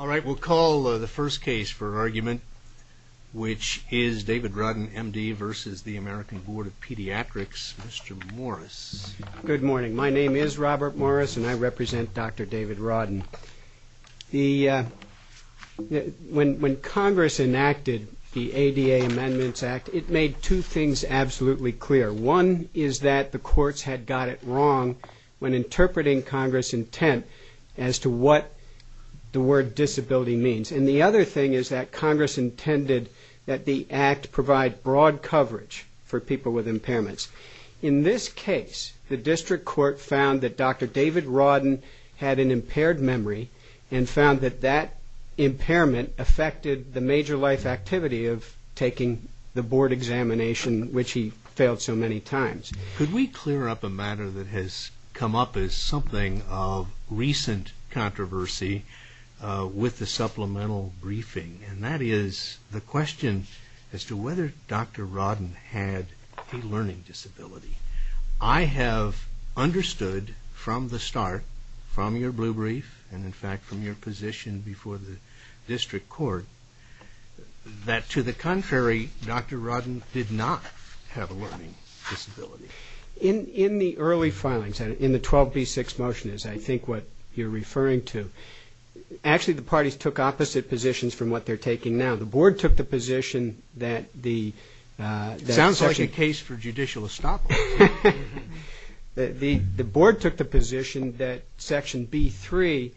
MR. MORRIS Good morning, my name is Robert Morris and I represent Dr. David Rodin. When Congress enacted the ADA Amendments Act, it made two things absolutely clear. One is that the courts had got it wrong when interpreting Congress' intent as to what the word disability means. And the other thing is that Congress intended that the act provide broad coverage for people with impairments. In this case, the district court found that Dr. David Rodin had an impaired memory and found that that impairment affected the major life activity of taking the board examination, which he failed so many times. MR. TAYLOR Could we clear up a matter that has come up as something of recent controversy with the supplemental briefing, and that is the question as to whether Dr. Rodin had a learning disability. I have understood from the start, from your blue brief, and in fact from your position before the district court, that to the contrary, Dr. Rodin did not have a learning disability. MR. RODIN In the early filings, in the 12B6 motion, as I think what you are referring to, actually the parties took opposite positions from what they are taking now. The board took the position that the... MR. TAYLOR Sounds like a case for judicial estoppel. MR. RODIN The board took the position that Section B3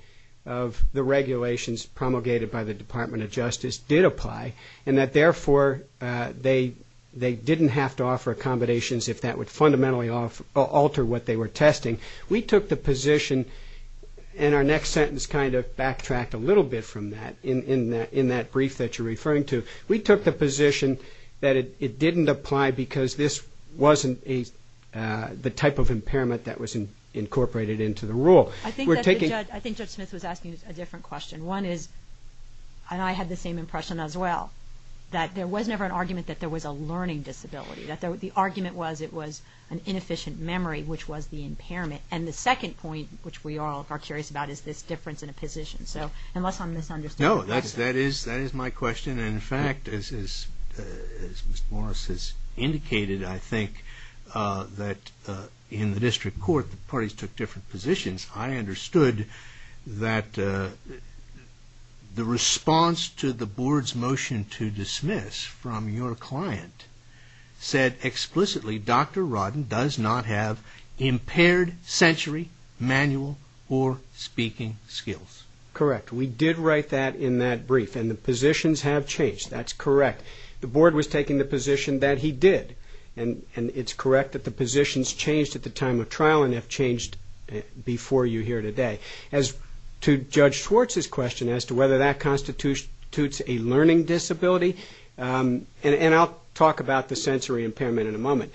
of the regulations promulgated by the Department of Justice did apply, and that therefore they did not have to offer accommodations if that would fundamentally alter what they were testing. We took the position, and our next sentence kind of backtracked a little bit from that in that brief that you are referring to. We took the position that it did not apply because this was not the type of impairment that was incorporated into the rule. MS. MCCARTY I think Judge Smith was asking a different question. One is, and I had the same impression as well, that there was never an argument that there was a learning disability. The argument was it was an inefficient memory, which was the impairment. And the second point, which we all are curious about, is this difference in a position. So unless I am misunderstanding... MR. RODIN In fact, as Mr. Morris has indicated, I think that in the district court, the parties took different positions. I understood that the response to the board's motion to dismiss from your client said explicitly, Dr. Rodin does not have impaired sensory, manual, or speaking skills. MR. MCCARTY Correct. We did write that in that brief, and the positions have changed. That's correct. The board was taking the position that he did, and it's correct that the positions changed at the time of trial and have changed before you here today. As to Judge Schwartz's question as to whether that constitutes a learning disability, and I'll talk about the sensory impairment in a moment,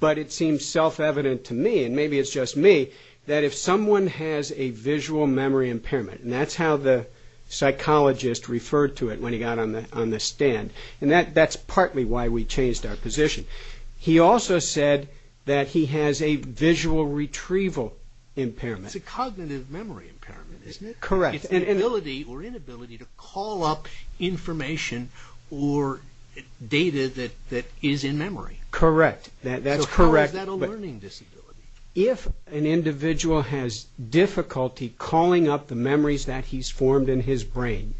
but it seems self-evident to me, and maybe it's just me, that if someone has a visual memory impairment, and that's how the psychologist referred to it when he got on the stand, and that's partly why we changed our position. He also said that he has a visual retrieval impairment. MR. RODIN It's a cognitive memory impairment, isn't it? MR. MCCARTY Correct. MR. RODIN It's the ability or inability to call up information or data that is in memory. MR. MCCARTY Correct. That's correct. MR. RODIN So how is that a learning disability? MR. MCCARTY If an individual has difficulty calling up the memories that he's formed in his brain,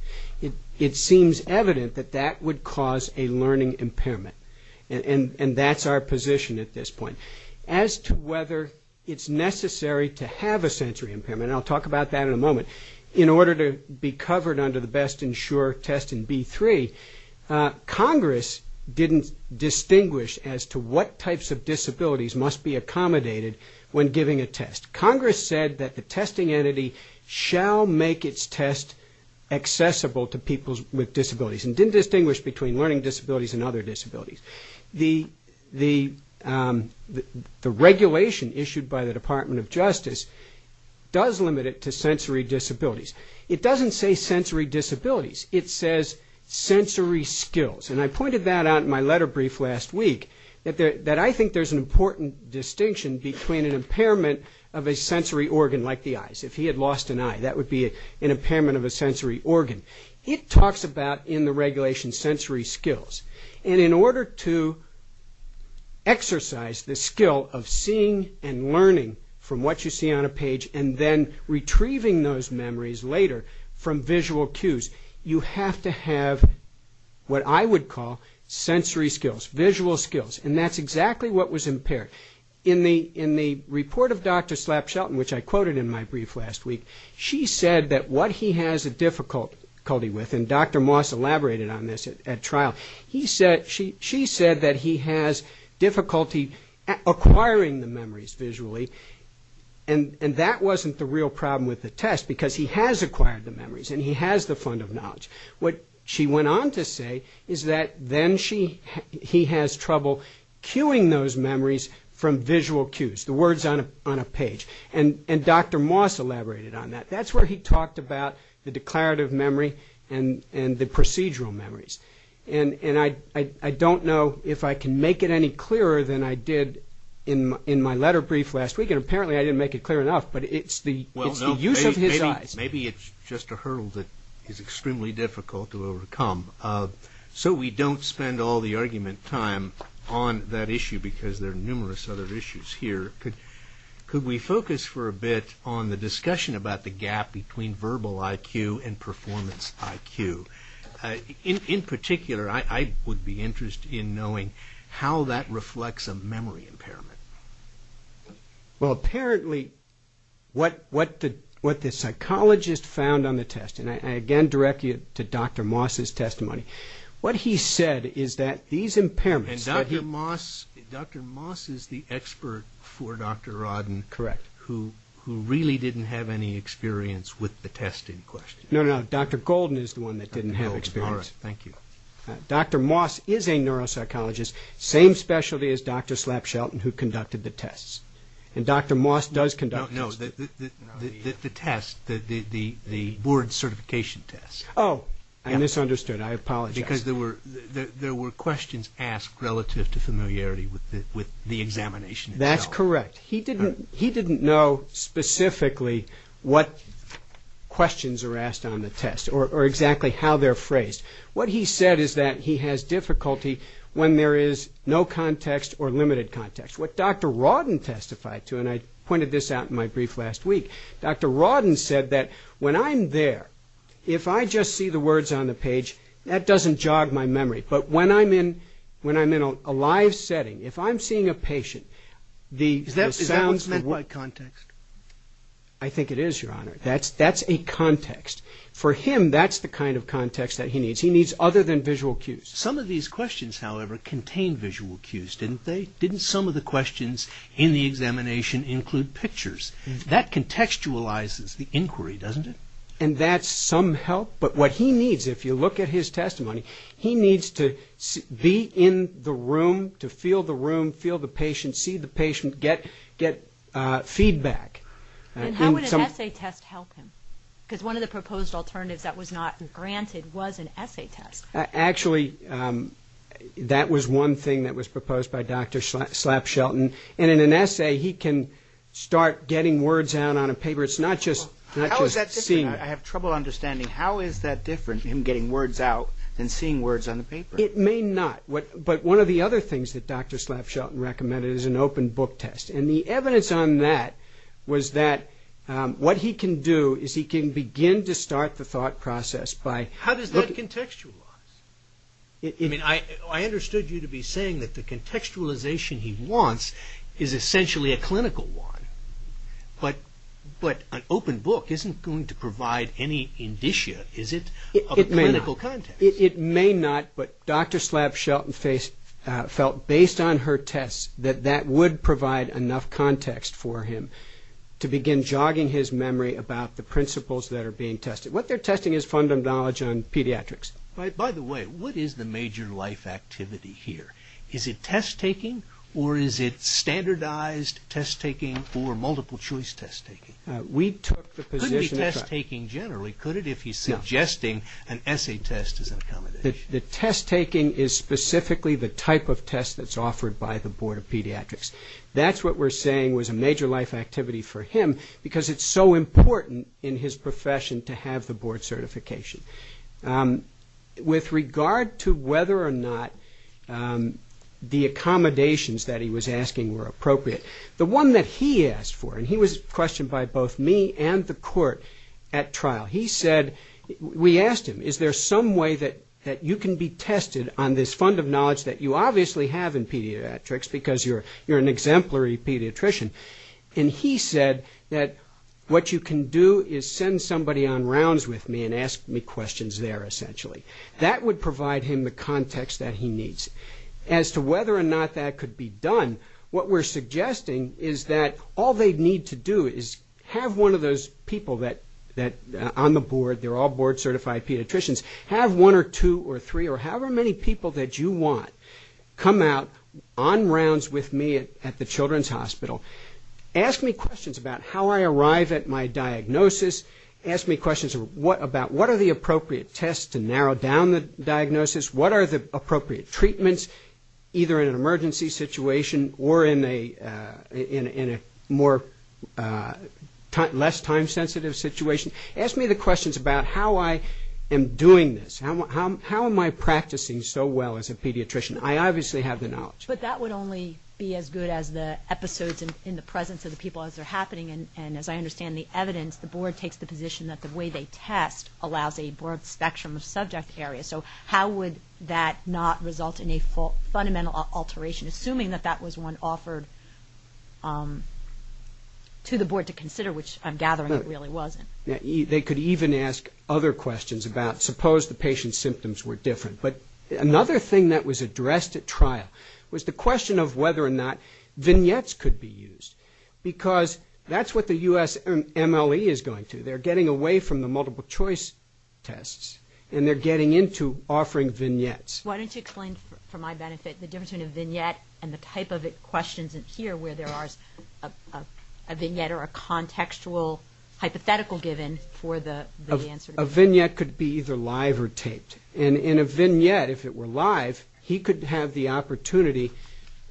it seems evident that that would cause a learning impairment, and that's our position at this point. As to whether it's necessary to have a sensory impairment, and I'll talk about that in a moment, in order to be covered under the Best and Sure test in B3, Congress didn't distinguish as to what types of disabilities must be accommodated when giving a test. Congress said that the testing entity shall make its test accessible to people with disabilities, and didn't distinguish between learning disabilities and other disabilities. The regulation issued by the Department of Justice does limit it to sensory disabilities. It doesn't say sensory disabilities. It says sensory skills, and I pointed that out in my letter brief last week, that I think there's an important distinction between an impairment of a sensory organ, like the eyes. If he had lost an eye, that would be an impairment of a sensory organ. It talks about, in the regulation, sensory skills, and in order to exercise the eyes later, from visual cues, you have to have what I would call sensory skills, visual skills, and that's exactly what was impaired. In the report of Dr. Slap Shelton, which I quoted in my brief last week, she said that what he has a difficulty with, and Dr. Moss elaborated on this at trial, she said that he has difficulty acquiring the memories visually, and that wasn't the real problem with the test, because he has acquired the memories, and he has the fund of knowledge. What she went on to say is that then he has trouble cueing those memories from visual cues, the words on a page, and Dr. Moss elaborated on that. That's where he talked about the declarative memory and the procedural memories, and I think, and apparently I didn't make it clear enough, but it's the use of his eyes. Maybe it's just a hurdle that is extremely difficult to overcome. So we don't spend all the argument time on that issue, because there are numerous other issues here. Could we focus for a bit on the discussion about the gap between verbal IQ and performance IQ? In particular, I would be interested in knowing how that reflects a memory impairment. Well, apparently, what the psychologist found on the test, and I again direct you to Dr. Moss' testimony, what he said is that these impairments... And Dr. Moss is the expert for Dr. Rodden, who really didn't have any experience with the test in question. No, no, Dr. Golden is the one that didn't have experience. Dr. Moss is a neuropsychologist, same specialty as Dr. Slapshelton, who conducted the tests, and Dr. Moss does conduct tests. No, the test, the board certification test. Oh, I misunderstood. I apologize. Because there were questions asked relative to familiarity with the examination itself. That's correct. He didn't know specifically what questions are asked on the test, or exactly how they're phrased. What he said is that he has difficulty when there is no context or limited context. What Dr. Rodden testified to, and I pointed this out in my brief last week, Dr. Rodden said that when I'm there, if I just see the words on the page, that doesn't jog my memory. But when I'm in a live session, I think it is, Your Honor. That's a context. For him, that's the kind of context that he needs. He needs other than visual cues. Some of these questions, however, contain visual cues, didn't they? Didn't some of the questions in the examination include pictures? That contextualizes the inquiry, doesn't it? And that's some help, but what he needs, if you look at his testimony, he needs to be in the room, to feel the room, feel the patient, see the patient, get feedback. And how would an essay test help him? Because one of the proposed alternatives that was not granted was an essay test. Actually, that was one thing that was proposed by Dr. Slapshelton, and in an essay, he can start getting words out on a paper. It's not just seeing it. How is that different? I have trouble understanding. How is that different, him getting words out, than seeing words on the paper? It may not, but one of the other things that Dr. Slapshelton recommended is an open book test, and the evidence on that was that what he can do is he can begin to start the thought process by... How does that contextualize? I mean, I understood you to be saying that the contextualization he wants is essentially a clinical one, but an open book isn't going to provide any indicia, is it, of a clinical context? It may not, but Dr. Slapshelton felt, based on her tests, that that would provide enough context for him to begin jogging his memory about the principles that are being tested. What they're testing is fundamental knowledge on pediatrics. By the way, what is the major life activity here? Is it test-taking, or is it standardized test-taking, or multiple-choice test-taking? We took the position that... The test-taking is specifically the type of test that's offered by the Board of Pediatrics. That's what we're saying was a major life activity for him, because it's so important in his profession to have the board certification. With regard to whether or not the accommodations that he was asking were appropriate, the one that he asked for, and he was questioned by both me and the court at trial, he said... We asked him, is there some way that you can be tested on this fund of knowledge that you obviously have in pediatrics, because you're an exemplary pediatrician? He said that what you can do is send somebody on rounds with me and ask me questions there, essentially. That would provide him the context that he needs. As to whether or not that could be done, what we're suggesting is that all they need to do is have one of those people that, on the board, they're all board-certified pediatricians, have one or two or three or however many people that you want come out on rounds with me at the children's hospital, ask me questions about how I arrive at my diagnosis, ask me questions about what are the appropriate tests to narrow down the diagnosis, what are the less time-sensitive situations, ask me the questions about how I am doing this, how am I practicing so well as a pediatrician? I obviously have the knowledge. But that would only be as good as the episodes in the presence of the people as they're happening, and as I understand the evidence, the board takes the position that the way they test allows a broad spectrum of subject areas, so how would that not result in a fundamental alteration, assuming that that was one offered to the board to consider, which I'm gathering it really wasn't. They could even ask other questions about, suppose the patient's symptoms were different. But another thing that was addressed at trial was the question of whether or not vignettes could be used, because that's what the U.S. MLE is going to. They're getting away from the multiple-choice tests, and they're getting into offering vignettes. Why don't you explain, for my benefit, the difference between a vignette and the type of questions in here, where there are a vignette or a contextual hypothetical given for the answer. A vignette could be either live or taped, and in a vignette, if it were live, he could have the opportunity,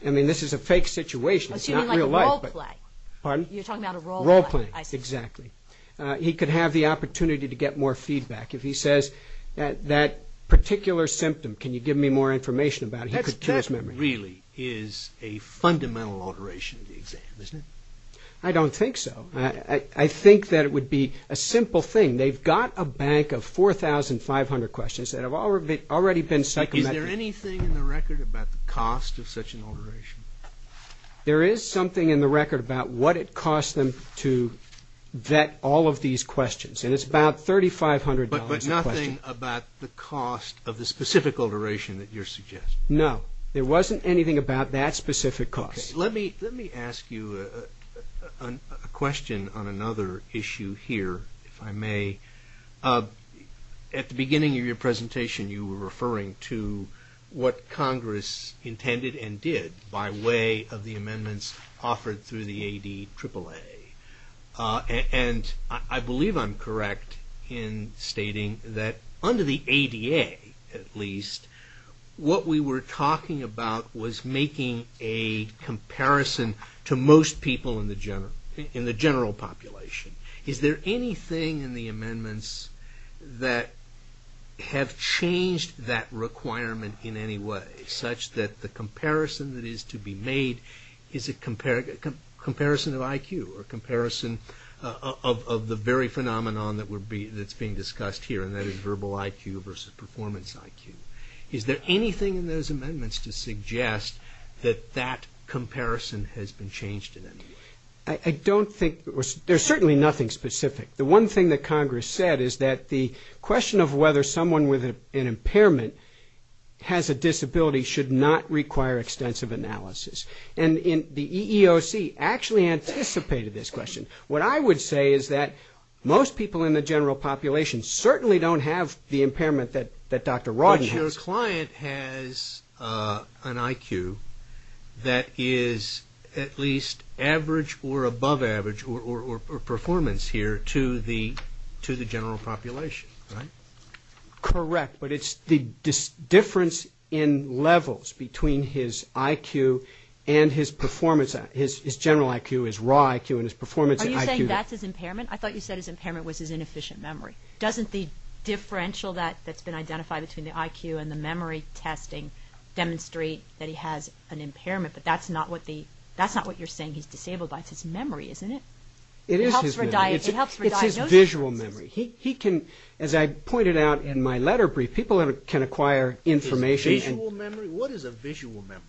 I mean, this is a fake situation, it's not real life, but... What do you mean, like a role-play? You're talking about a role-play. Role-play, exactly. He could have the opportunity to get more feedback. If he says that that particular symptom, can you give me more information about it, he could kill his memory. That really is a fundamental alteration of the exam, isn't it? I don't think so. I think that it would be a simple thing. They've got a bank of 4,500 questions that have already been psychometric. Is there anything in the record about the cost of such an alteration? There is something in the record about what it cost them to vet all of these questions, and it's about $3,500 a question. Is there anything about the cost of the specific alteration that you're suggesting? No. There wasn't anything about that specific cost. Let me ask you a question on another issue here, if I may. At the beginning of your presentation you were referring to what Congress intended and did by way of the amendments offered through the ADAAA. I believe I'm correct in stating that under the ADA, at least, what we were talking about was making a comparison to most people in the general population. Is there anything in the amendments that have changed that requirement in any way, such that the comparison of IQ or comparison of the very phenomenon that's being discussed here, and that is verbal IQ versus performance IQ, is there anything in those amendments to suggest that that comparison has been changed in any way? I don't think, there's certainly nothing specific. The one thing that Congress said is that the question of whether someone with an impairment has a disability should not require extensive analysis. And the EEOC actually anticipated this question. What I would say is that most people in the general population certainly don't have the impairment that Dr. Rodden has. But your client has an IQ that is at least average or above average or performance here to the general population, right? Correct. But it's the difference in levels between his IQ and his performance. His general IQ, his raw IQ, and his performance IQ. Are you saying that's his impairment? I thought you said his impairment was his inefficient memory. Doesn't the differential that's been identified between the IQ and the memory testing demonstrate that he has an impairment? But that's not what you're saying he's disabled by. It's his memory, isn't it? It is his memory. It's his visual memory. He can, as I pointed out in my letter brief, people can acquire information. Visual memory? What is a visual memory?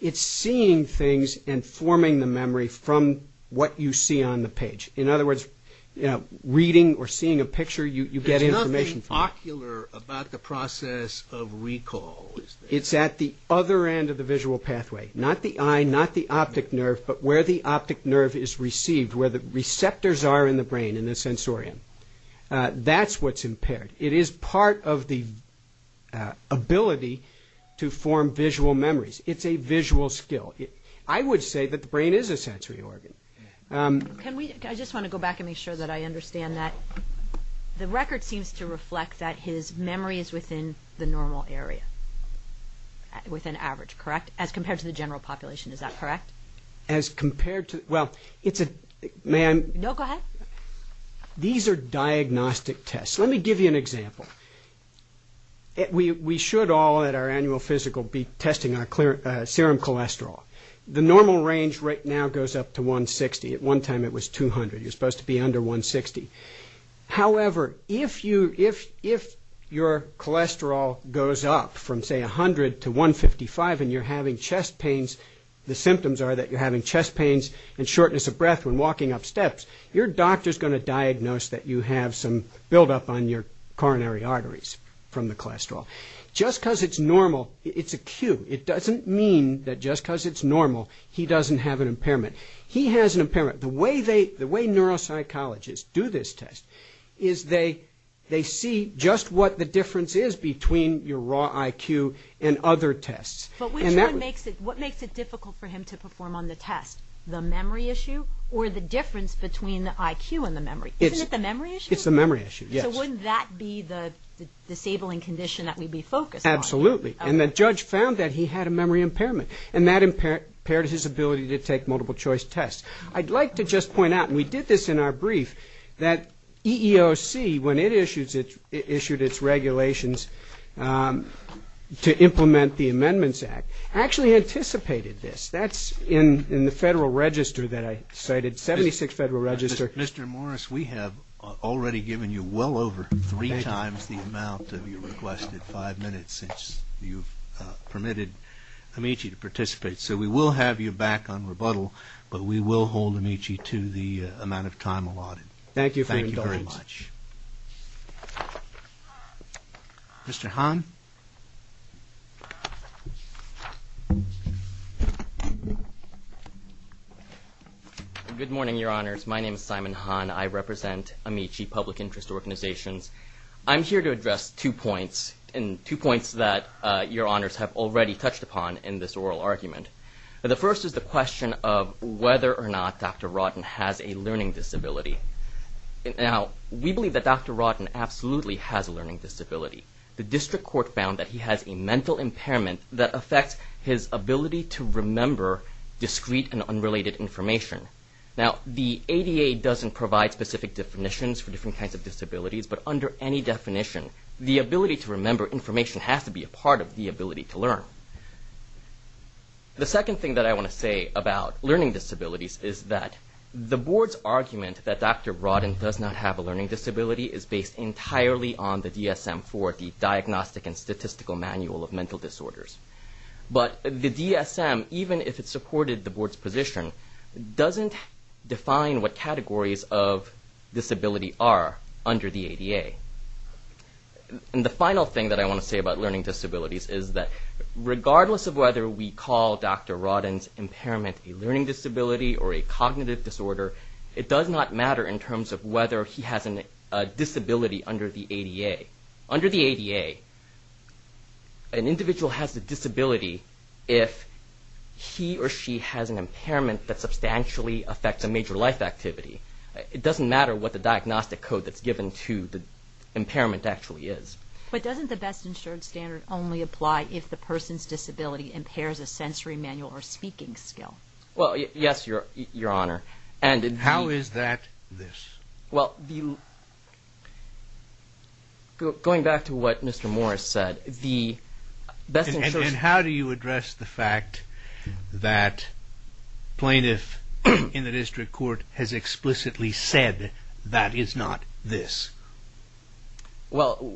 It's seeing things and forming the memory from what you see on the page. In other words, reading or seeing a picture, you get information from it. There's nothing ocular about the process of recall, is there? It's at the other end of the visual pathway. Not the eye, not the optic nerve, but where the optic nerve is received, where the receptors are in the brain, in the sensorium. That's what's impaired. It is part of the ability to form visual memories. It's a visual skill. I would say that the brain is a sensory organ. I just want to go back and make sure that I understand that. The record seems to reflect that his memory is within the normal area, within average, correct? As compared to the general population, is that correct? As compared to, well, it's a, may I? No, go ahead. These are diagnostic tests. Let me give you an example. We should all at our annual physical be testing our serum cholesterol. The normal range right now goes up to 160. At one time it was 200. It was supposed to be under 160. However, if your cholesterol goes up from say 100 to 155 and you're having chest pains, the symptoms are that you're having chest pains and shortness of breath when walking up steps, your doctor is going to diagnose that you have some buildup on your coronary arteries from the cholesterol. Just because it's normal, it's acute. It doesn't mean that just because it's normal, he doesn't have an impairment. He has an impairment. The way neuropsychologists do this test is they see just what the difference is between your raw IQ and other tests. But what makes it difficult for him to perform on the test? The memory issue or the difference between the IQ and the memory? Isn't it the memory issue? It's the memory issue, yes. So wouldn't that be the disabling condition that we'd be focused on? Absolutely. And the judge found that he had a memory impairment and that impaired his ability to take multiple choice tests. I'd like to just point out, and we did this in our brief, that EEOC, when it issued its regulations to implement the Amendments Act, actually anticipated this. That's in the Federal Register that I cited, 76th Federal Register. Mr. Morris, we have already given you well over three times the amount of your requested five minutes since you've permitted Amici to participate. So we will have you back on rebuttal, but we will hold Amici to the amount of time allotted. Thank you for your indulgence. Thank you very much. Mr. Han. Good morning, Your Honors. My name is Simon Han. I represent Amici Public Interest Organizations. I'm here to address two points, and two points that Your Honors have already touched upon in this oral argument. The first is the question of whether or not Dr. Rodden has a learning disability. Now, we believe that Dr. Rodden absolutely has a learning disability. The District Court found that he has a mental impairment that affects his ability to remember discrete and unrelated information. Now, the ADA doesn't provide specific definitions for different kinds of disabilities, but under any definition, the ability to remember information has to be a part of the ability to learn. The second thing that I want to say about learning disabilities is that the Board's argument that Dr. Rodden does not have a learning disability is based entirely on the DSM-IV, the Diagnostic and Statistical Manual of Mental Disorders. But the DSM, even if it supported the Board's position, doesn't define what categories of disability are under the ADA. And the final thing that I want to say about learning disabilities is that regardless of whether we call Dr. Rodden's impairment a learning disability or a cognitive disorder, it does not matter in terms of whether he has a disability under the ADA. Under the ADA, an individual has a disability if he or she has an impairment that substantially affects a major life activity. It doesn't matter what the diagnostic code that's given to the impairment actually is. But doesn't the best-insured standard only apply if the person's disability impairs a sensory manual or speaking skill? Well, yes, Your Honor. How is that this? Well, going back to what Mr. Morris said, the best-insured... And how do you address the fact that plaintiff in the district court has explicitly said that is not this? Well,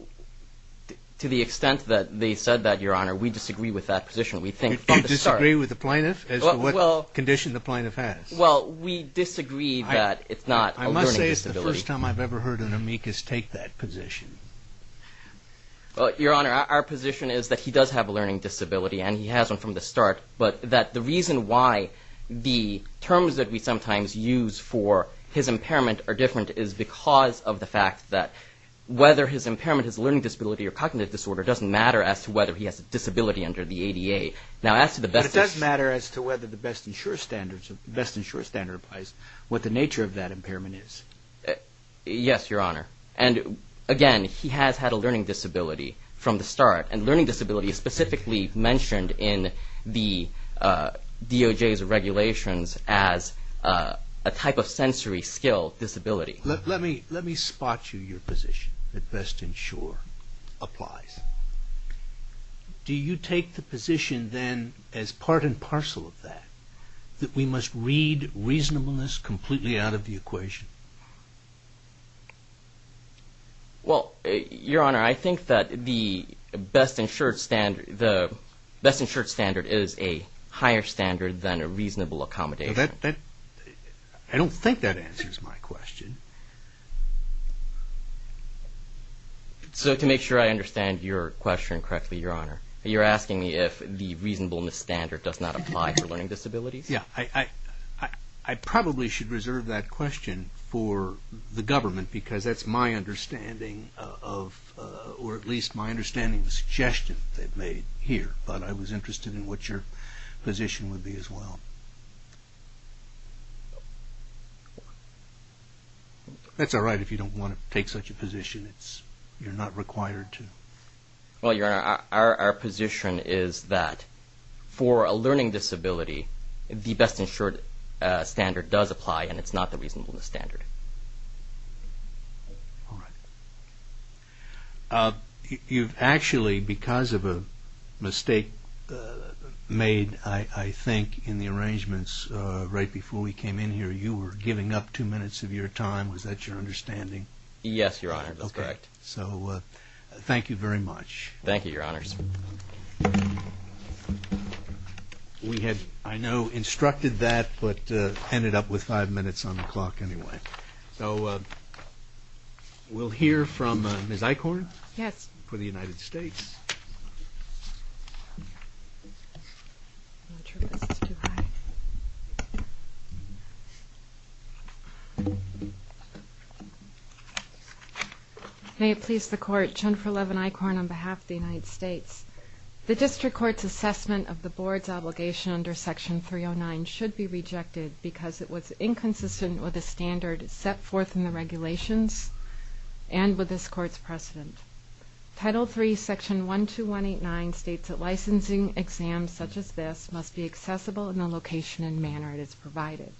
to the extent that they said that, Your Honor, we disagree with that position. You disagree with the plaintiff as to what condition the plaintiff has? Well, we disagree that it's not a learning disability. I must say it's the first time I've ever heard an amicus take that position. Your Honor, our position is that he does have a learning disability and he has one from the start, but that the reason why the terms that we sometimes use for his impairment are different is because of the fact that whether his impairment is a learning disability or cognitive disorder doesn't matter as to whether he has a disability under the ADA. But it does matter as to whether the best-insured standard applies, what the nature of that impairment is. Yes, Your Honor. And again, he has had a learning disability from the start and learning disability is specifically mentioned in the DOJ's regulations as a type of sensory skill disability. Let me spot you your position that best-insured applies. Do you take the position then as part and parcel of that that we must read reasonableness completely out of the equation? Well, Your Honor, I think that the best-insured standard is a higher standard than a reasonable accommodation. I don't think that answers my question. So to make sure I understand your question correctly, Your Honor, you're asking me if the reasonableness standard does not apply for learning disabilities? I probably should reserve that question for the government because that's my understanding of, or at least my understanding of the suggestion they've made here. But I was interested in what your position would be as well. That's all right if you don't want to take such a position. You're not required to. Well, Your Honor, our position is that for a learning disability the best-insured standard does apply and it's not the reasonableness standard. All right. You've actually, because of a mistake made, I think, in the arrangements right before we came in here, you were giving up two minutes of your time. Was that your understanding? Yes, Your Honor, that's correct. So thank you very much. Thank you, Your Honors. We had, I know, instructed that but ended up with five minutes on the clock anyway. So we'll hear from Ms. Eichhorn for the United States. May it please the Court, Jennifer Levin Eichhorn on behalf of the United States. The District Court's assessment of the Board's obligation under Section 309 should be rejected because it was inconsistent with the standard set forth in the regulations and with this Court's precedent. Title III, Section 12189 states that licensing exams such as this must be accessible in the location and manner it is provided.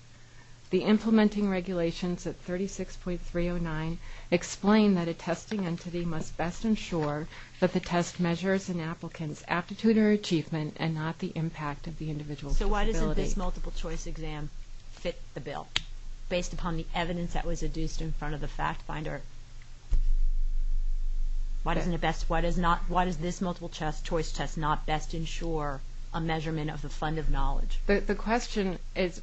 The implementing regulations at 36.309 explain that a testing entity must best ensure that the test measures an applicant's aptitude or achievement and not the impact of the individual's disability. Why doesn't this multiple choice exam fit the bill? Based upon the evidence that was adduced in front of the fact finder. Why doesn't it best, why does this multiple choice test not best ensure a measurement of the fund of knowledge? The question is,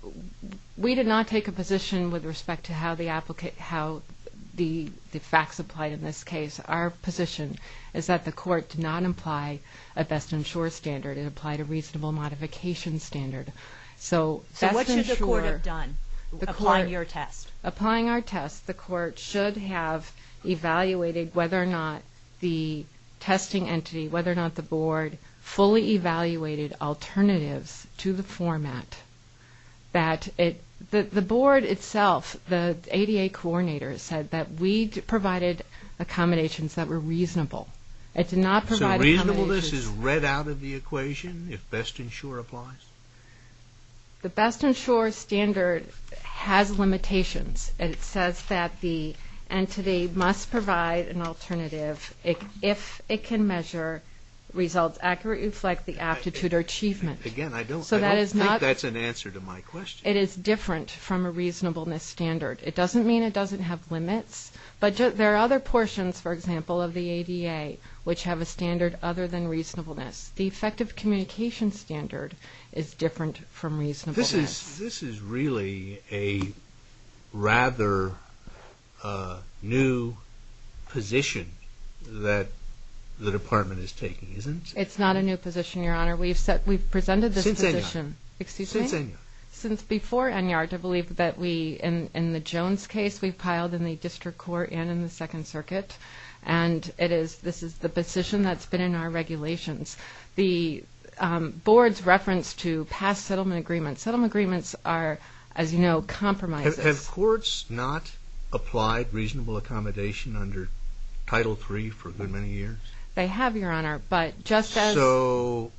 we did not take a position with respect to how the facts applied in this case. Our position is that the Court did not apply a best-ensure standard. It applied a reasonable modification standard. So what should the Court have done applying your test? Applying our test, the Court should have evaluated whether or not the testing entity, whether or not the Board fully evaluated alternatives to the format that it, the Board itself, the ADA coordinator said that we provided accommodations that were reasonable. So reasonableness is read out of the equation if best-ensure applies? The best-ensure standard has limitations and it says that the entity must provide an alternative if it can measure results accurately reflect the aptitude or achievement. I don't think that's an answer to my question. It is different from a reasonableness standard. It doesn't mean it doesn't have limits but there are other portions for example of the ADA which have a standard other than reasonableness. The effective communication standard is different from reasonableness. This is really a rather new position that the Department is taking, isn't it? It's not a new position, Your Honor. since before ENYAR to believe that we in the Jones case we've piled in the District Court and in the Second Circuit and this is the position that's been in our regulations. The board's reference to past settlement agreements settlement agreements are as you know compromises. Have courts not applied reasonable accommodation under Title III for a good many years? They have, Your Honor, but just as So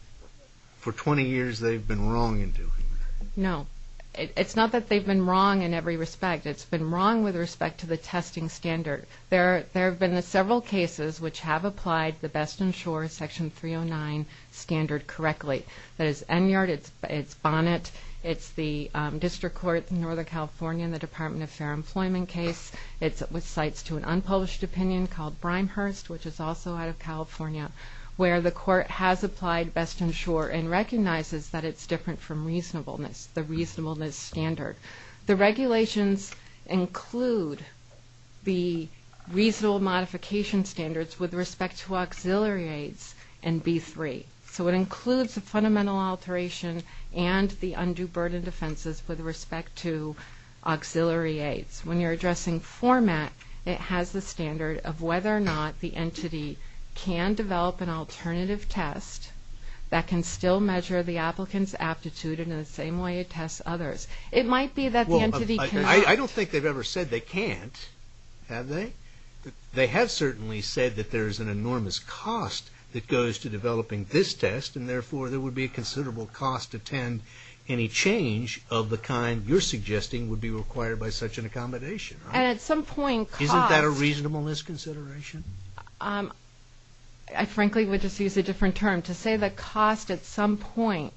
for 20 years they've been wrong in doing that? No. It's not that they've been wrong in every respect. It's been wrong with respect to the testing standard. There have been several cases which have applied the Best & Sure Section 309 standard correctly. That is ENYAR, it's BONNET it's the District Court in Northern California in the Department of Fair Employment case it's with cites to an unpublished opinion called Brimehurst which is also out of California where the court has applied Best & Sure and recognizes that it's different from reasonableness the reasonableness standard The regulations include the reasonable modification standards with respect to auxiliary aids and B3. So it includes the fundamental alteration and the undue burden defenses with respect to auxiliary aids. When you're addressing format it has the standard of whether or not the entity can develop an alternative test that can still measure the applicant's aptitude in the same way it tests others. It might be that I don't think they've ever said they can't. Have they? They have certainly said that there is an enormous cost that goes to developing this test and therefore there would be a considerable cost to attend any change of the kind you're suggesting would be required by such an accommodation. Isn't that a reasonableness consideration? I frankly would just use a different term to say that cost at some point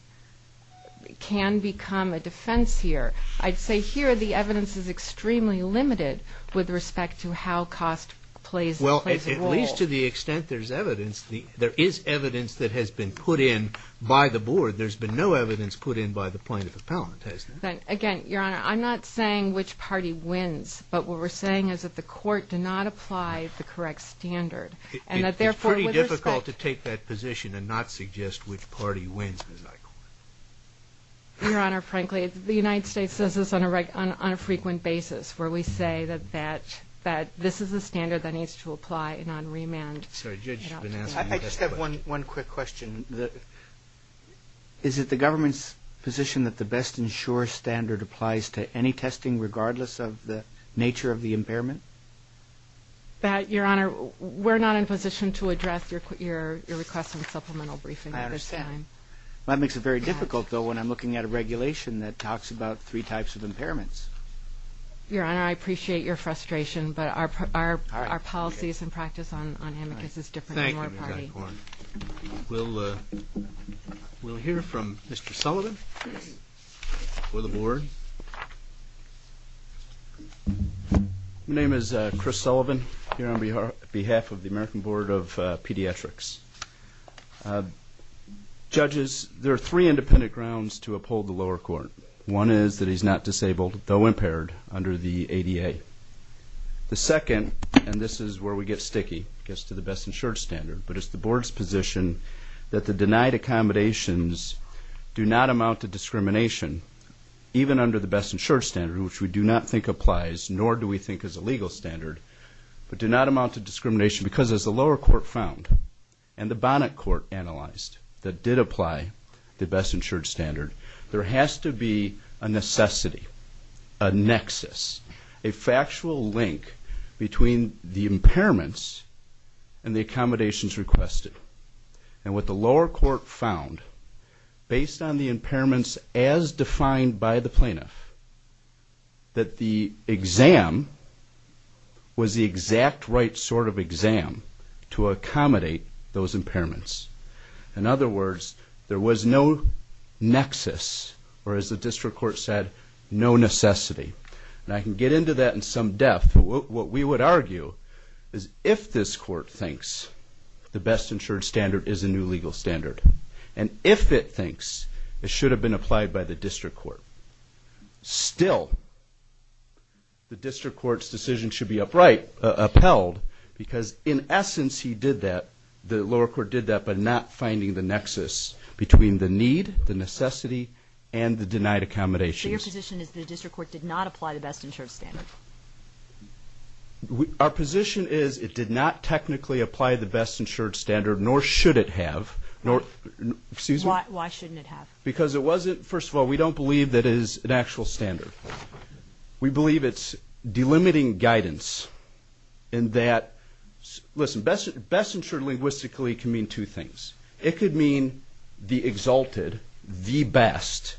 can become a defense here. I'd say here the evidence is extremely limited with respect to how cost plays a role. Well, at least to the extent there's evidence there is evidence that has been put in by the board. There's been no evidence put in by the plaintiff appellant, has there? Again, Your Honor, I'm not saying which party wins, but what we're saying is that the court did not apply the correct standard. It's pretty difficult to take that position and not suggest which party wins. Your Honor, frankly, the United States says this on a frequent basis where we say that this is a standard that needs to apply and on remand. I just have one quick question. Is it the government's position that the best and sure standard applies to any testing regardless of the nature of the impairment? Your Honor, we're not in a position to address your request for a supplemental briefing at this time. I understand. That makes it very difficult, though, when I'm looking at a regulation that talks about three types of impairments. Your Honor, I appreciate your frustration, but our policy is in practice on him because it's different from our party. We'll hear from Mr. Sullivan for the board. My name is Chris Sullivan here on behalf of the American Board of Pediatrics. Judges, there are three independent grounds to uphold the lower court. One is that he's not disabled, though impaired, under the ADA. The second, and this is where we get sticky, gets to the best and sure standard, but it's the board's position that the denied accommodations do not amount to discrimination even under the best and sure standard which we do not think applies, nor do we think is a legal standard, but do not amount to discrimination because as the lower court found and the bonnet court analyzed that did apply the best and sure standard, there has to be a necessity, a nexus, a factual link between the impairments and the accommodations requested, and what the lower court found based on the impairments as defined by the plaintiff that the exam was the exact right sort of exam to accommodate those impairments. In other words, there was no nexus, or as the district court said, no necessity. And I can get into that in some depth but what we would argue is if this court thinks the best and sure standard is a new legal standard, and if it thinks it should have been applied by the district court, still the district court's decision should be upheld because in essence he did that, the lower court did that, but not finding the nexus between the need, the necessity, and the denied accommodations. Your position is the district court did not apply the best and sure standard? Our position is it did not technically apply the best and sure standard, nor should it have. Excuse me? Why shouldn't it have? First of all, we don't believe that it is an actual standard. We believe it's delimiting guidance in that listen, best and sure linguistically can mean two things. It could mean the exalted, the best,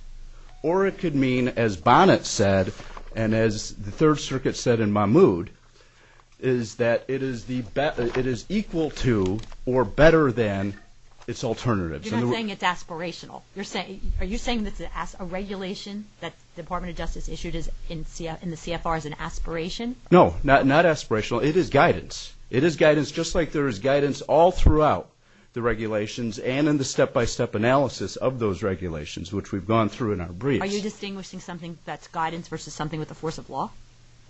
or it could mean, as Bonnet said, and as the Third Circuit said in Mahmood, is that it is equal to or better than its alternatives. You're not saying it's aspirational. Are you saying that a regulation that the Department of Justice issued in the CFR is an aspiration? No, not aspirational. It is guidance. It is guidance just like there is guidance all throughout the regulations and in the step-by-step analysis of those regulations which we've gone through in our briefs. Are you distinguishing something that's guidance versus something with the force of law?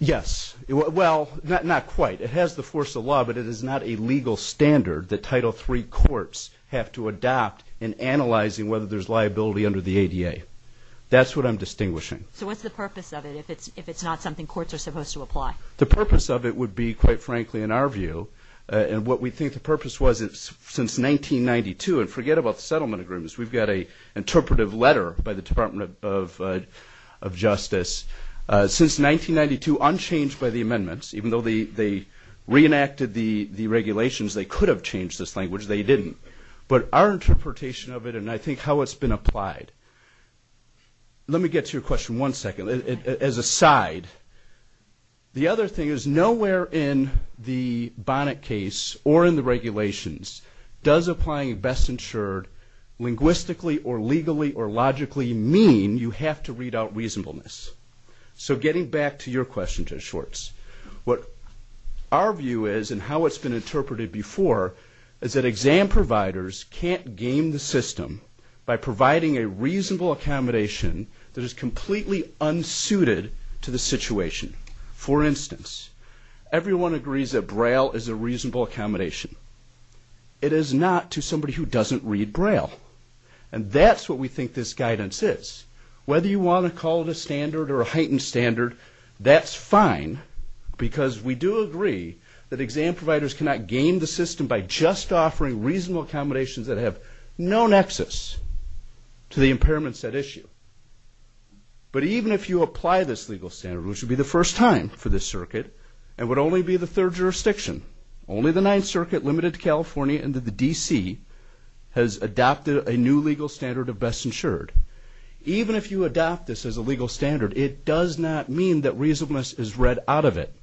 Yes. Well, not quite. It has the force of law, but it is not a legal standard that Title III courts have to adopt in analyzing whether there's liability under the ADA. That's what I'm distinguishing. So what's the purpose of it, if it's not something courts are supposed to apply? The purpose of it would be, quite frankly, in our view and what we think the purpose was since 1992, and forget about settlement agreements. We've got an interpretive letter by the Department of Justice since 1992, unchanged by the amendments, even though they reenacted the regulations they could have changed this language. They didn't. But our interpretation of it and I think how it's been applied. Let me get to your question one second as a side. The other thing is nowhere in the Bonnet case or in the regulations does applying a best-insured linguistically or legally or logically mean you have to read out reasonableness. So getting back to your question Judge Schwartz, what our view is and how it's been interpreted before is that exam providers can't game the system by providing a reasonable accommodation that is completely unsuited to the situation. For instance, everyone agrees that braille is a reasonable accommodation. It is not to somebody who doesn't read braille. And that's what we think this guidance is. Whether you want to call it a standard or a heightened standard, that's fine because we do agree that exam providers cannot game the system by just offering reasonable accommodations that have no nexus to the impairments at issue. But even if you apply this legal standard, which would be the first time for this circuit and would only be the third jurisdiction only the Ninth Circuit, limited to California and the D.C. has adopted a new legal standard of best insured. Even if you adopt this as a legal standard, it does not mean that reasonableness is read out of it.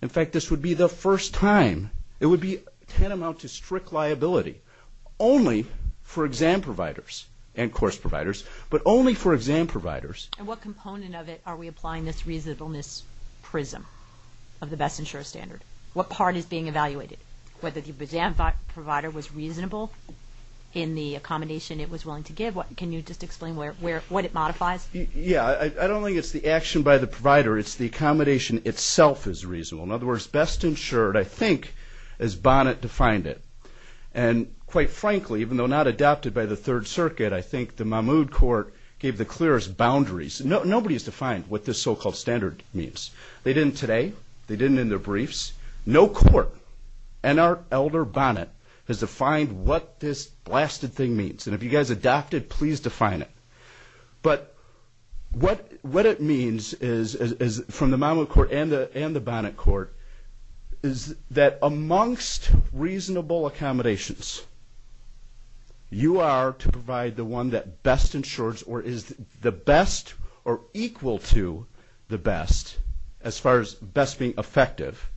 In fact, this would be the first time. It would be tantamount to strict liability only for exam providers and course providers, but only for exam providers. And what component of it are we applying this reasonableness prism of the best insured standard? What part is being evaluated? Whether the exam provider was reasonable in the accommodation it was willing to give? Can you just explain what it modifies? Yeah. I don't think it's the action by the provider. It's the accommodation itself is reasonable. In other words, best insured I think as Bonnet defined it. And quite frankly even though not adopted by the Third Circuit I think the Mahmood Court gave the clearest boundaries. Nobody has defined what this so-called standard means. They didn't today. They didn't in their briefs. No court and our elder Bonnet has defined what this blasted thing means. And if you guys adopted, please define it. But what it means is from the Mahmood Court and the Bonnet Court is that amongst reasonable accommodations you are to provide the one that best insures or is the best or equal to the best as far as best being effective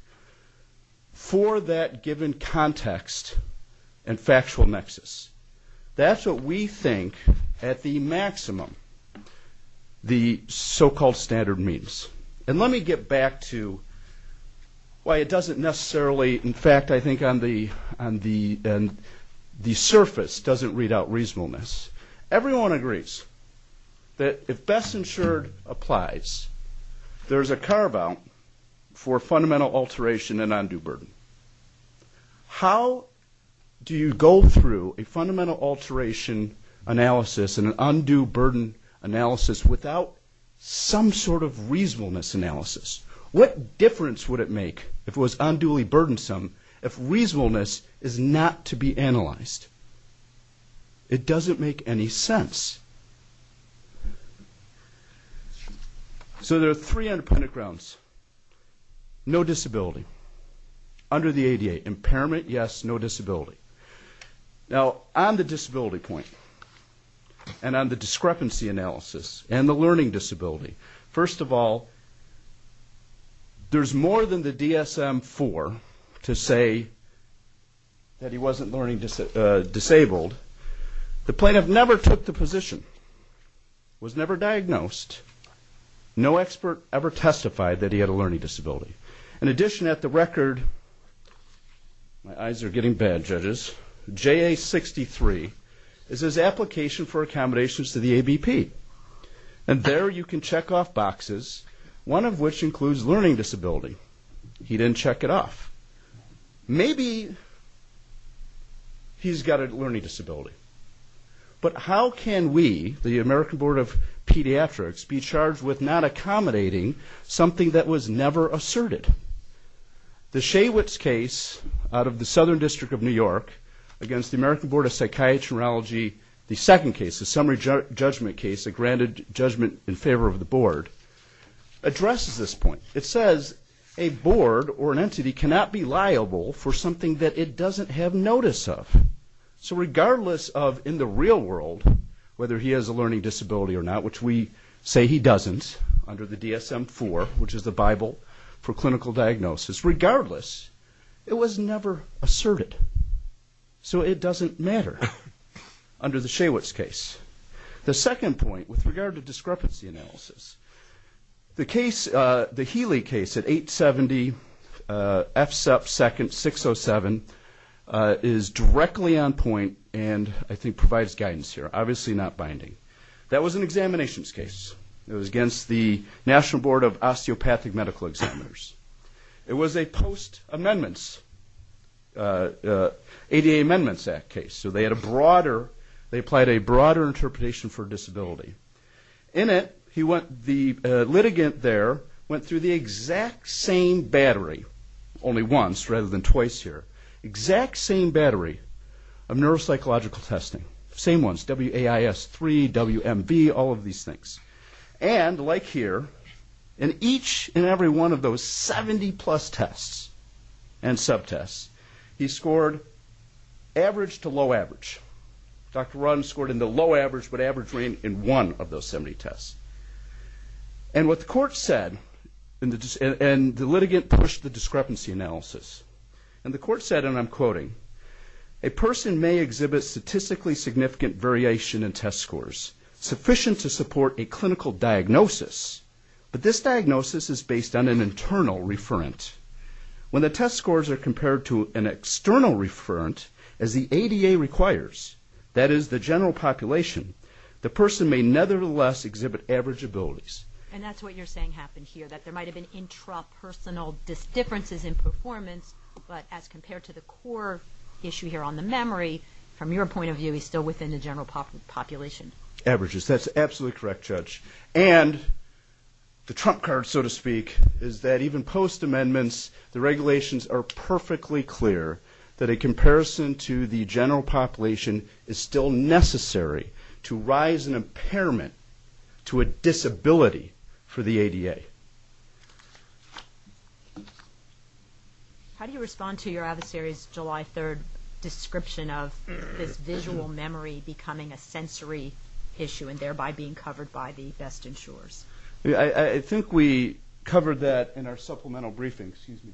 for that given context and factual nexus. That's what we think at the maximum the so-called standard means. And let me get back to why it doesn't necessarily, in fact I think on the surface doesn't read out reasonableness. Everyone agrees that if best insured applies, there's a carve out for fundamental alteration and undue burden. How do you go through a fundamental alteration analysis and an undue burden analysis without some sort of reasonableness analysis? What difference would it make if it was unduly burdensome if reasonableness is not to be analyzed? It doesn't make any sense. So there are three underpinning grounds. No disability under the ADA. Impairment, yes, no disability. Now, on the disability point and on the discrepancy analysis and the learning disability, first of all, there's more than the DSM-IV to say that he wasn't learning disabled. The plaintiff never took the position, was never diagnosed, no expert ever testified that he had a learning disability. In addition, at the record, my eyes are getting bad, judges, JA-63 is his application for accommodations to the ABP. And there you can check off boxes, one of which includes learning disability. He didn't check it off. Maybe he's got a learning disability. But how can we, the American Board of Pediatrics, be charged with not accommodating something that was never asserted? The Shaywitz case out of the Southern District of New York against the American Board of Psychiatry and Neurology, the second case, the summary judgment case, the granted judgment in favor of the board, addresses this point. It says a board or an entity cannot be liable for something that it doesn't have notice of. So regardless of, in the real world, whether he has a learning disability or not, which we say he doesn't under the DSM-IV, which is the Bible for clinical diagnosis, regardless, it was never asserted. So it doesn't matter under the Shaywitz case. The second point, with regard to discrepancy analysis, the case, the Healy case at 870 F. Sepp 2nd, 607, is directly on point and I think provides guidance here, obviously not binding. That was an examinations case. It was against the National Board of Osteopathic Medical Examiners. It was a post-amendments ADA Amendments Act case, so they had a broader, they applied a broader interpretation for disability. In it, the litigant there went through the exact same battery, only once rather than twice here, exact same battery of neuropsychological testing. Same ones, WAIS-III, WMB, all of these things. And, like here, in each and every one of those 70 plus tests and subtests, he scored average to low average. Dr. Run scored in the low average, but average ran in one of those 70 tests. And what the court said, and the litigant pushed the discrepancy analysis, and the court said, and I'm quoting, a person may exhibit statistically significant variation in test scores, sufficient to support a clinical diagnosis, but this diagnosis is based on an internal referent. When the test scores are compared to an external referent, as the ADA requires, that is the general population, the person may nevertheless exhibit average abilities. And that's what you're saying happened here, that there might have been intrapersonal differences in performance, but as compared to the core issue here on the memory, from your point of view, he's still within the general population. Averages, that's absolutely correct, Judge. And, the trump card, so to speak, is that even post amendments, the regulations are perfectly clear that a comparison to the general population is still necessary to rise in impairment to a disability for the ADA. How do you respond to your adversary's July 3rd description of this visual memory becoming a sensory issue and thereby being covered by the best insurers? I think we covered that in our supplemental briefing. Excuse me,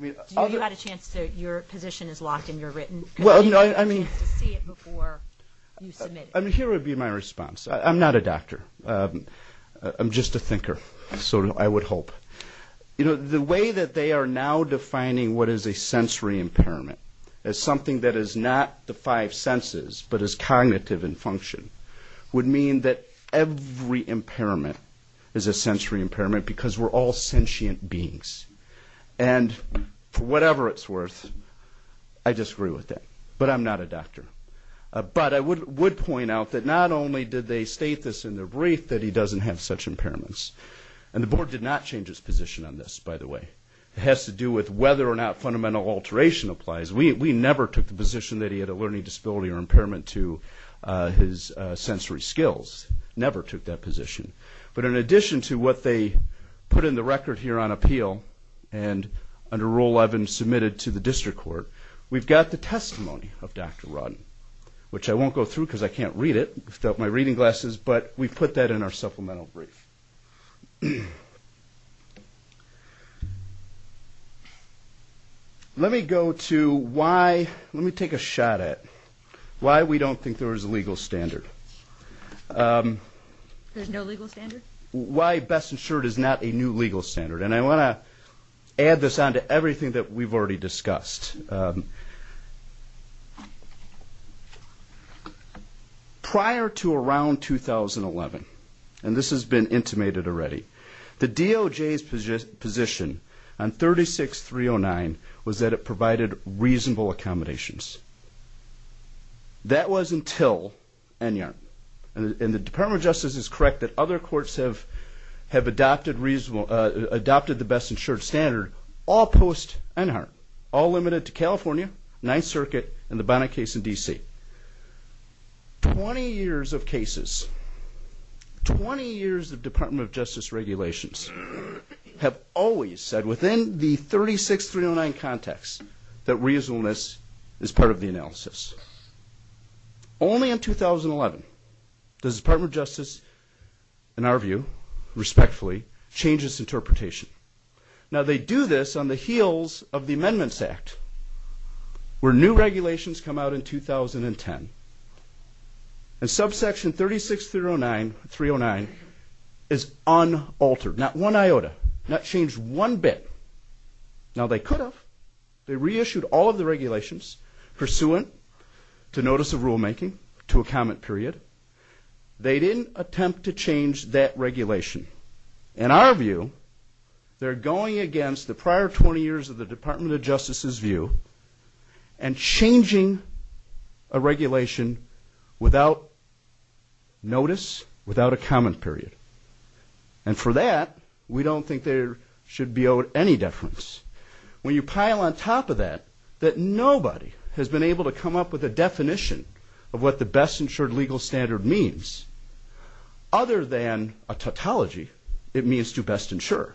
Judge. You had a chance to, your position is locked in your written, you had a chance to see it before you submitted it. Here would be my response. I'm not a doctor. I'm just a thinker, so I would hope. The way that they are now defining what is a sensory impairment as something that is not the five senses, but is cognitive in function, would mean that every impairment is a sensory impairment because we're all sentient beings. And, for whatever it's worth, I disagree with that. But I'm not a doctor. But I would point out that not only did they state this in their brief, that he doesn't have such impairments. And the board did not change its position on this, by the way. It has to do with whether or not fundamental alteration applies. We never took the position that he had a learning disability or impairment to his sensory skills. Never took that position. But in addition to what they put in the record here on appeal and under Rule 11 submitted to the district court, we've got the testimony of Dr. Rodden, which I won't go through because I can't read it without my reading glasses, but we put that in our supplemental brief. Let me go to why... Let me take a shot at why we don't think there is a legal standard. There's no legal standard? Why best insured is not a new legal standard. And I want to add this on to everything that we've already discussed. Prior to around 2011, and this has been intimated already, the DOJ's position on 36-309 was that it provided reasonable accommodations. That was until Enyarn. And the DOJ's have adopted the best insured standard all post Enyarn. All limited to California, 9th Circuit, and the Bonnet case in D.C. 20 years of cases, 20 years of Department of Justice regulations have always said within the 36-309 context that reasonableness is part of the analysis. Only in 2011 does the Department of Justice review, respectfully, changes interpretation. Now they do this on the heels of the Amendments Act where new regulations come out in 2010 and subsection 36-309 is unaltered. Not one iota. Not changed one bit. Now they could have. They reissued all of the regulations pursuant to notice of rulemaking to a comment period. They didn't attempt to change that regulation. In our view, they're going against the prior 20 years of the Department of Justice's view and changing a regulation without notice, without a comment period. And for that, we don't think there should be any deference. When you pile on top of that, that nobody has been able to come up with a definition of what the best insured legal standard means. Other than a tautology, it means to best insure.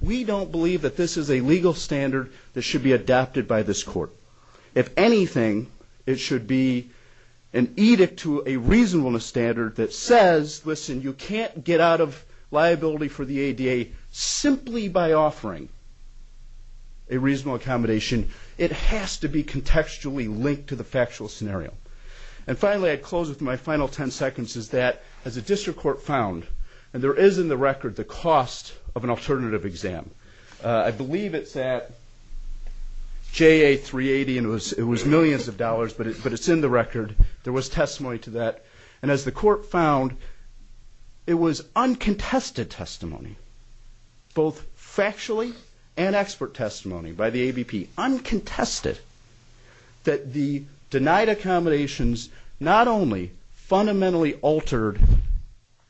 We don't believe that this is a legal standard that should be adopted by this court. If anything, it should be an edict to a reasonableness standard that says, listen, you can't get out of liability for the ADA simply by offering a reasonable accommodation. It has to be a reasonable accommodation. And finally, I'd close with my final 10 seconds, is that as a district court found, and there is in the record the cost of an alternative exam. I believe it's at JA 380 and it was millions of dollars, but it's in the record. There was testimony to that. And as the court found, it was uncontested testimony, both factually and expert testimony by the ABP, uncontested, that the denied accommodations not only fundamentally altered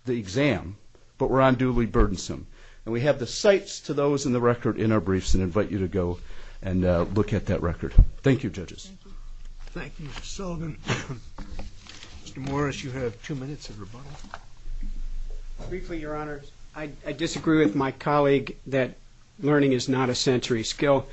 the exam, but were unduly burdensome. And we have the sites to those in the record in our briefs and invite you to go and look at that record. Thank you, judges. Thank you, Mr. Sullivan. Mr. Morris, you have two minutes of rebuttal. Briefly, Your Honor, I disagree with my colleague that learning is not a sensory skill.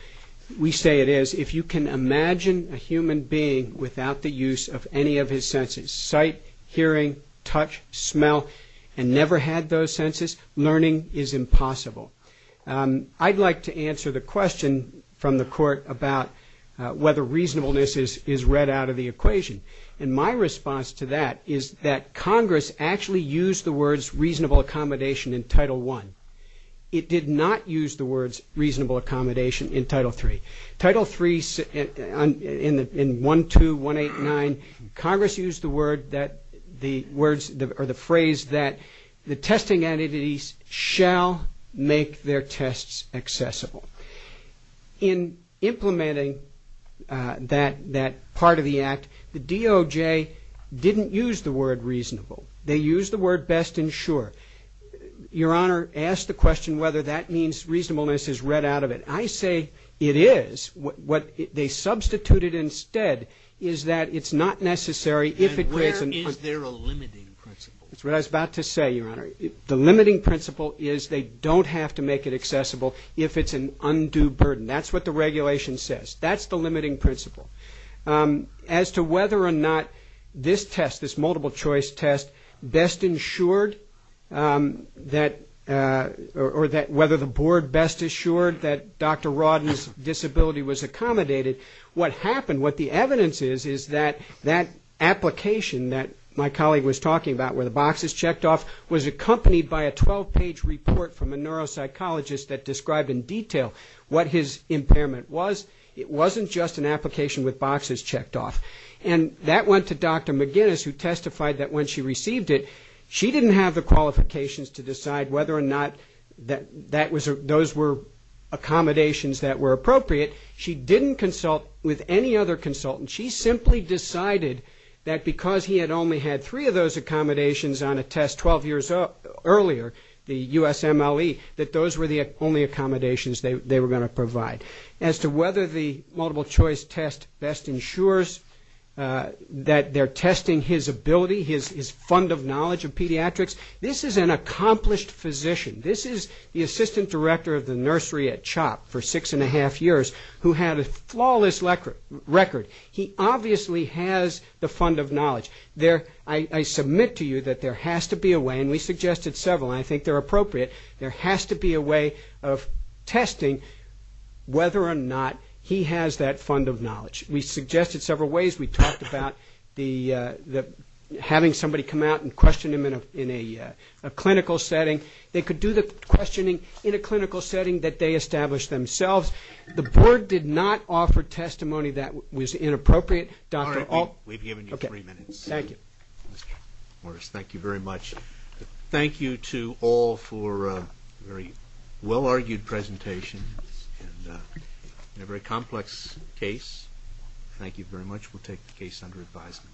We say it is. If you can imagine a human being without the use of any of his senses, sight, hearing, touch, smell, and never had those senses, learning is impossible. I'd like to answer the question from the court about whether reasonableness is read out of the equation. And my response to that is that Congress actually used the words reasonable accommodation in Title I. It did not use the words reasonable accommodation in Title III. Title III, in 1-2-1-8-9, Congress used the word that the words, or the phrase that the testing entities shall make their tests accessible. In implementing that part of the Act, the DOJ didn't use the word reasonable. They used the word best ensured. Your Honor, ask the question whether that means reasonableness is read out of it. I say it is. What they substituted instead is that it's not necessary if it creates... And where is there a limiting principle? That's what I was about to say, Your Honor. The limiting principle is they don't have to make it accessible if it's an undue burden. That's what the regulation says. That's the limiting principle. As to whether or not this test, this multiple choice test, best ensured, or whether the Board best assured that Dr. Rodden's disability was accommodated, what happened, what the evidence is, is that that application that my colleague was talking about where the boxes checked off was accompanied by a 12-page report from a neuropsychologist that described in detail what his impairment was. It wasn't just an application with boxes checked off. And that went to Dr. McGinnis who testified that when she received it, she didn't have the qualifications to decide whether or not those were accommodations that were appropriate. She didn't consult with any other consultant. She simply decided that because he had only had three of those accommodations on a test 12 years earlier, the USMLE, that those were the only accommodations they were going to provide. As to whether the multiple choice test best ensures that they're testing his ability, his fund of knowledge of pediatrics, this is an accomplished physician. This is the assistant director of the nursery at CHOP for six and a half years who had a flawless record. He obviously has the fund of knowledge. I submit to you that there has to be a way, and we suggested several, and I think they're appropriate, there has to be a way of testing whether or not he has that ability. There are ways. We talked about having somebody come out and question him in a clinical setting. They could do the questioning in a clinical setting that they established themselves. The board did not offer testimony that was inappropriate. We've given you three minutes. Thank you very much. Thank you to all for a very well-argued presentation and a very complex case. Thank you very much. We'll take the case under advisement.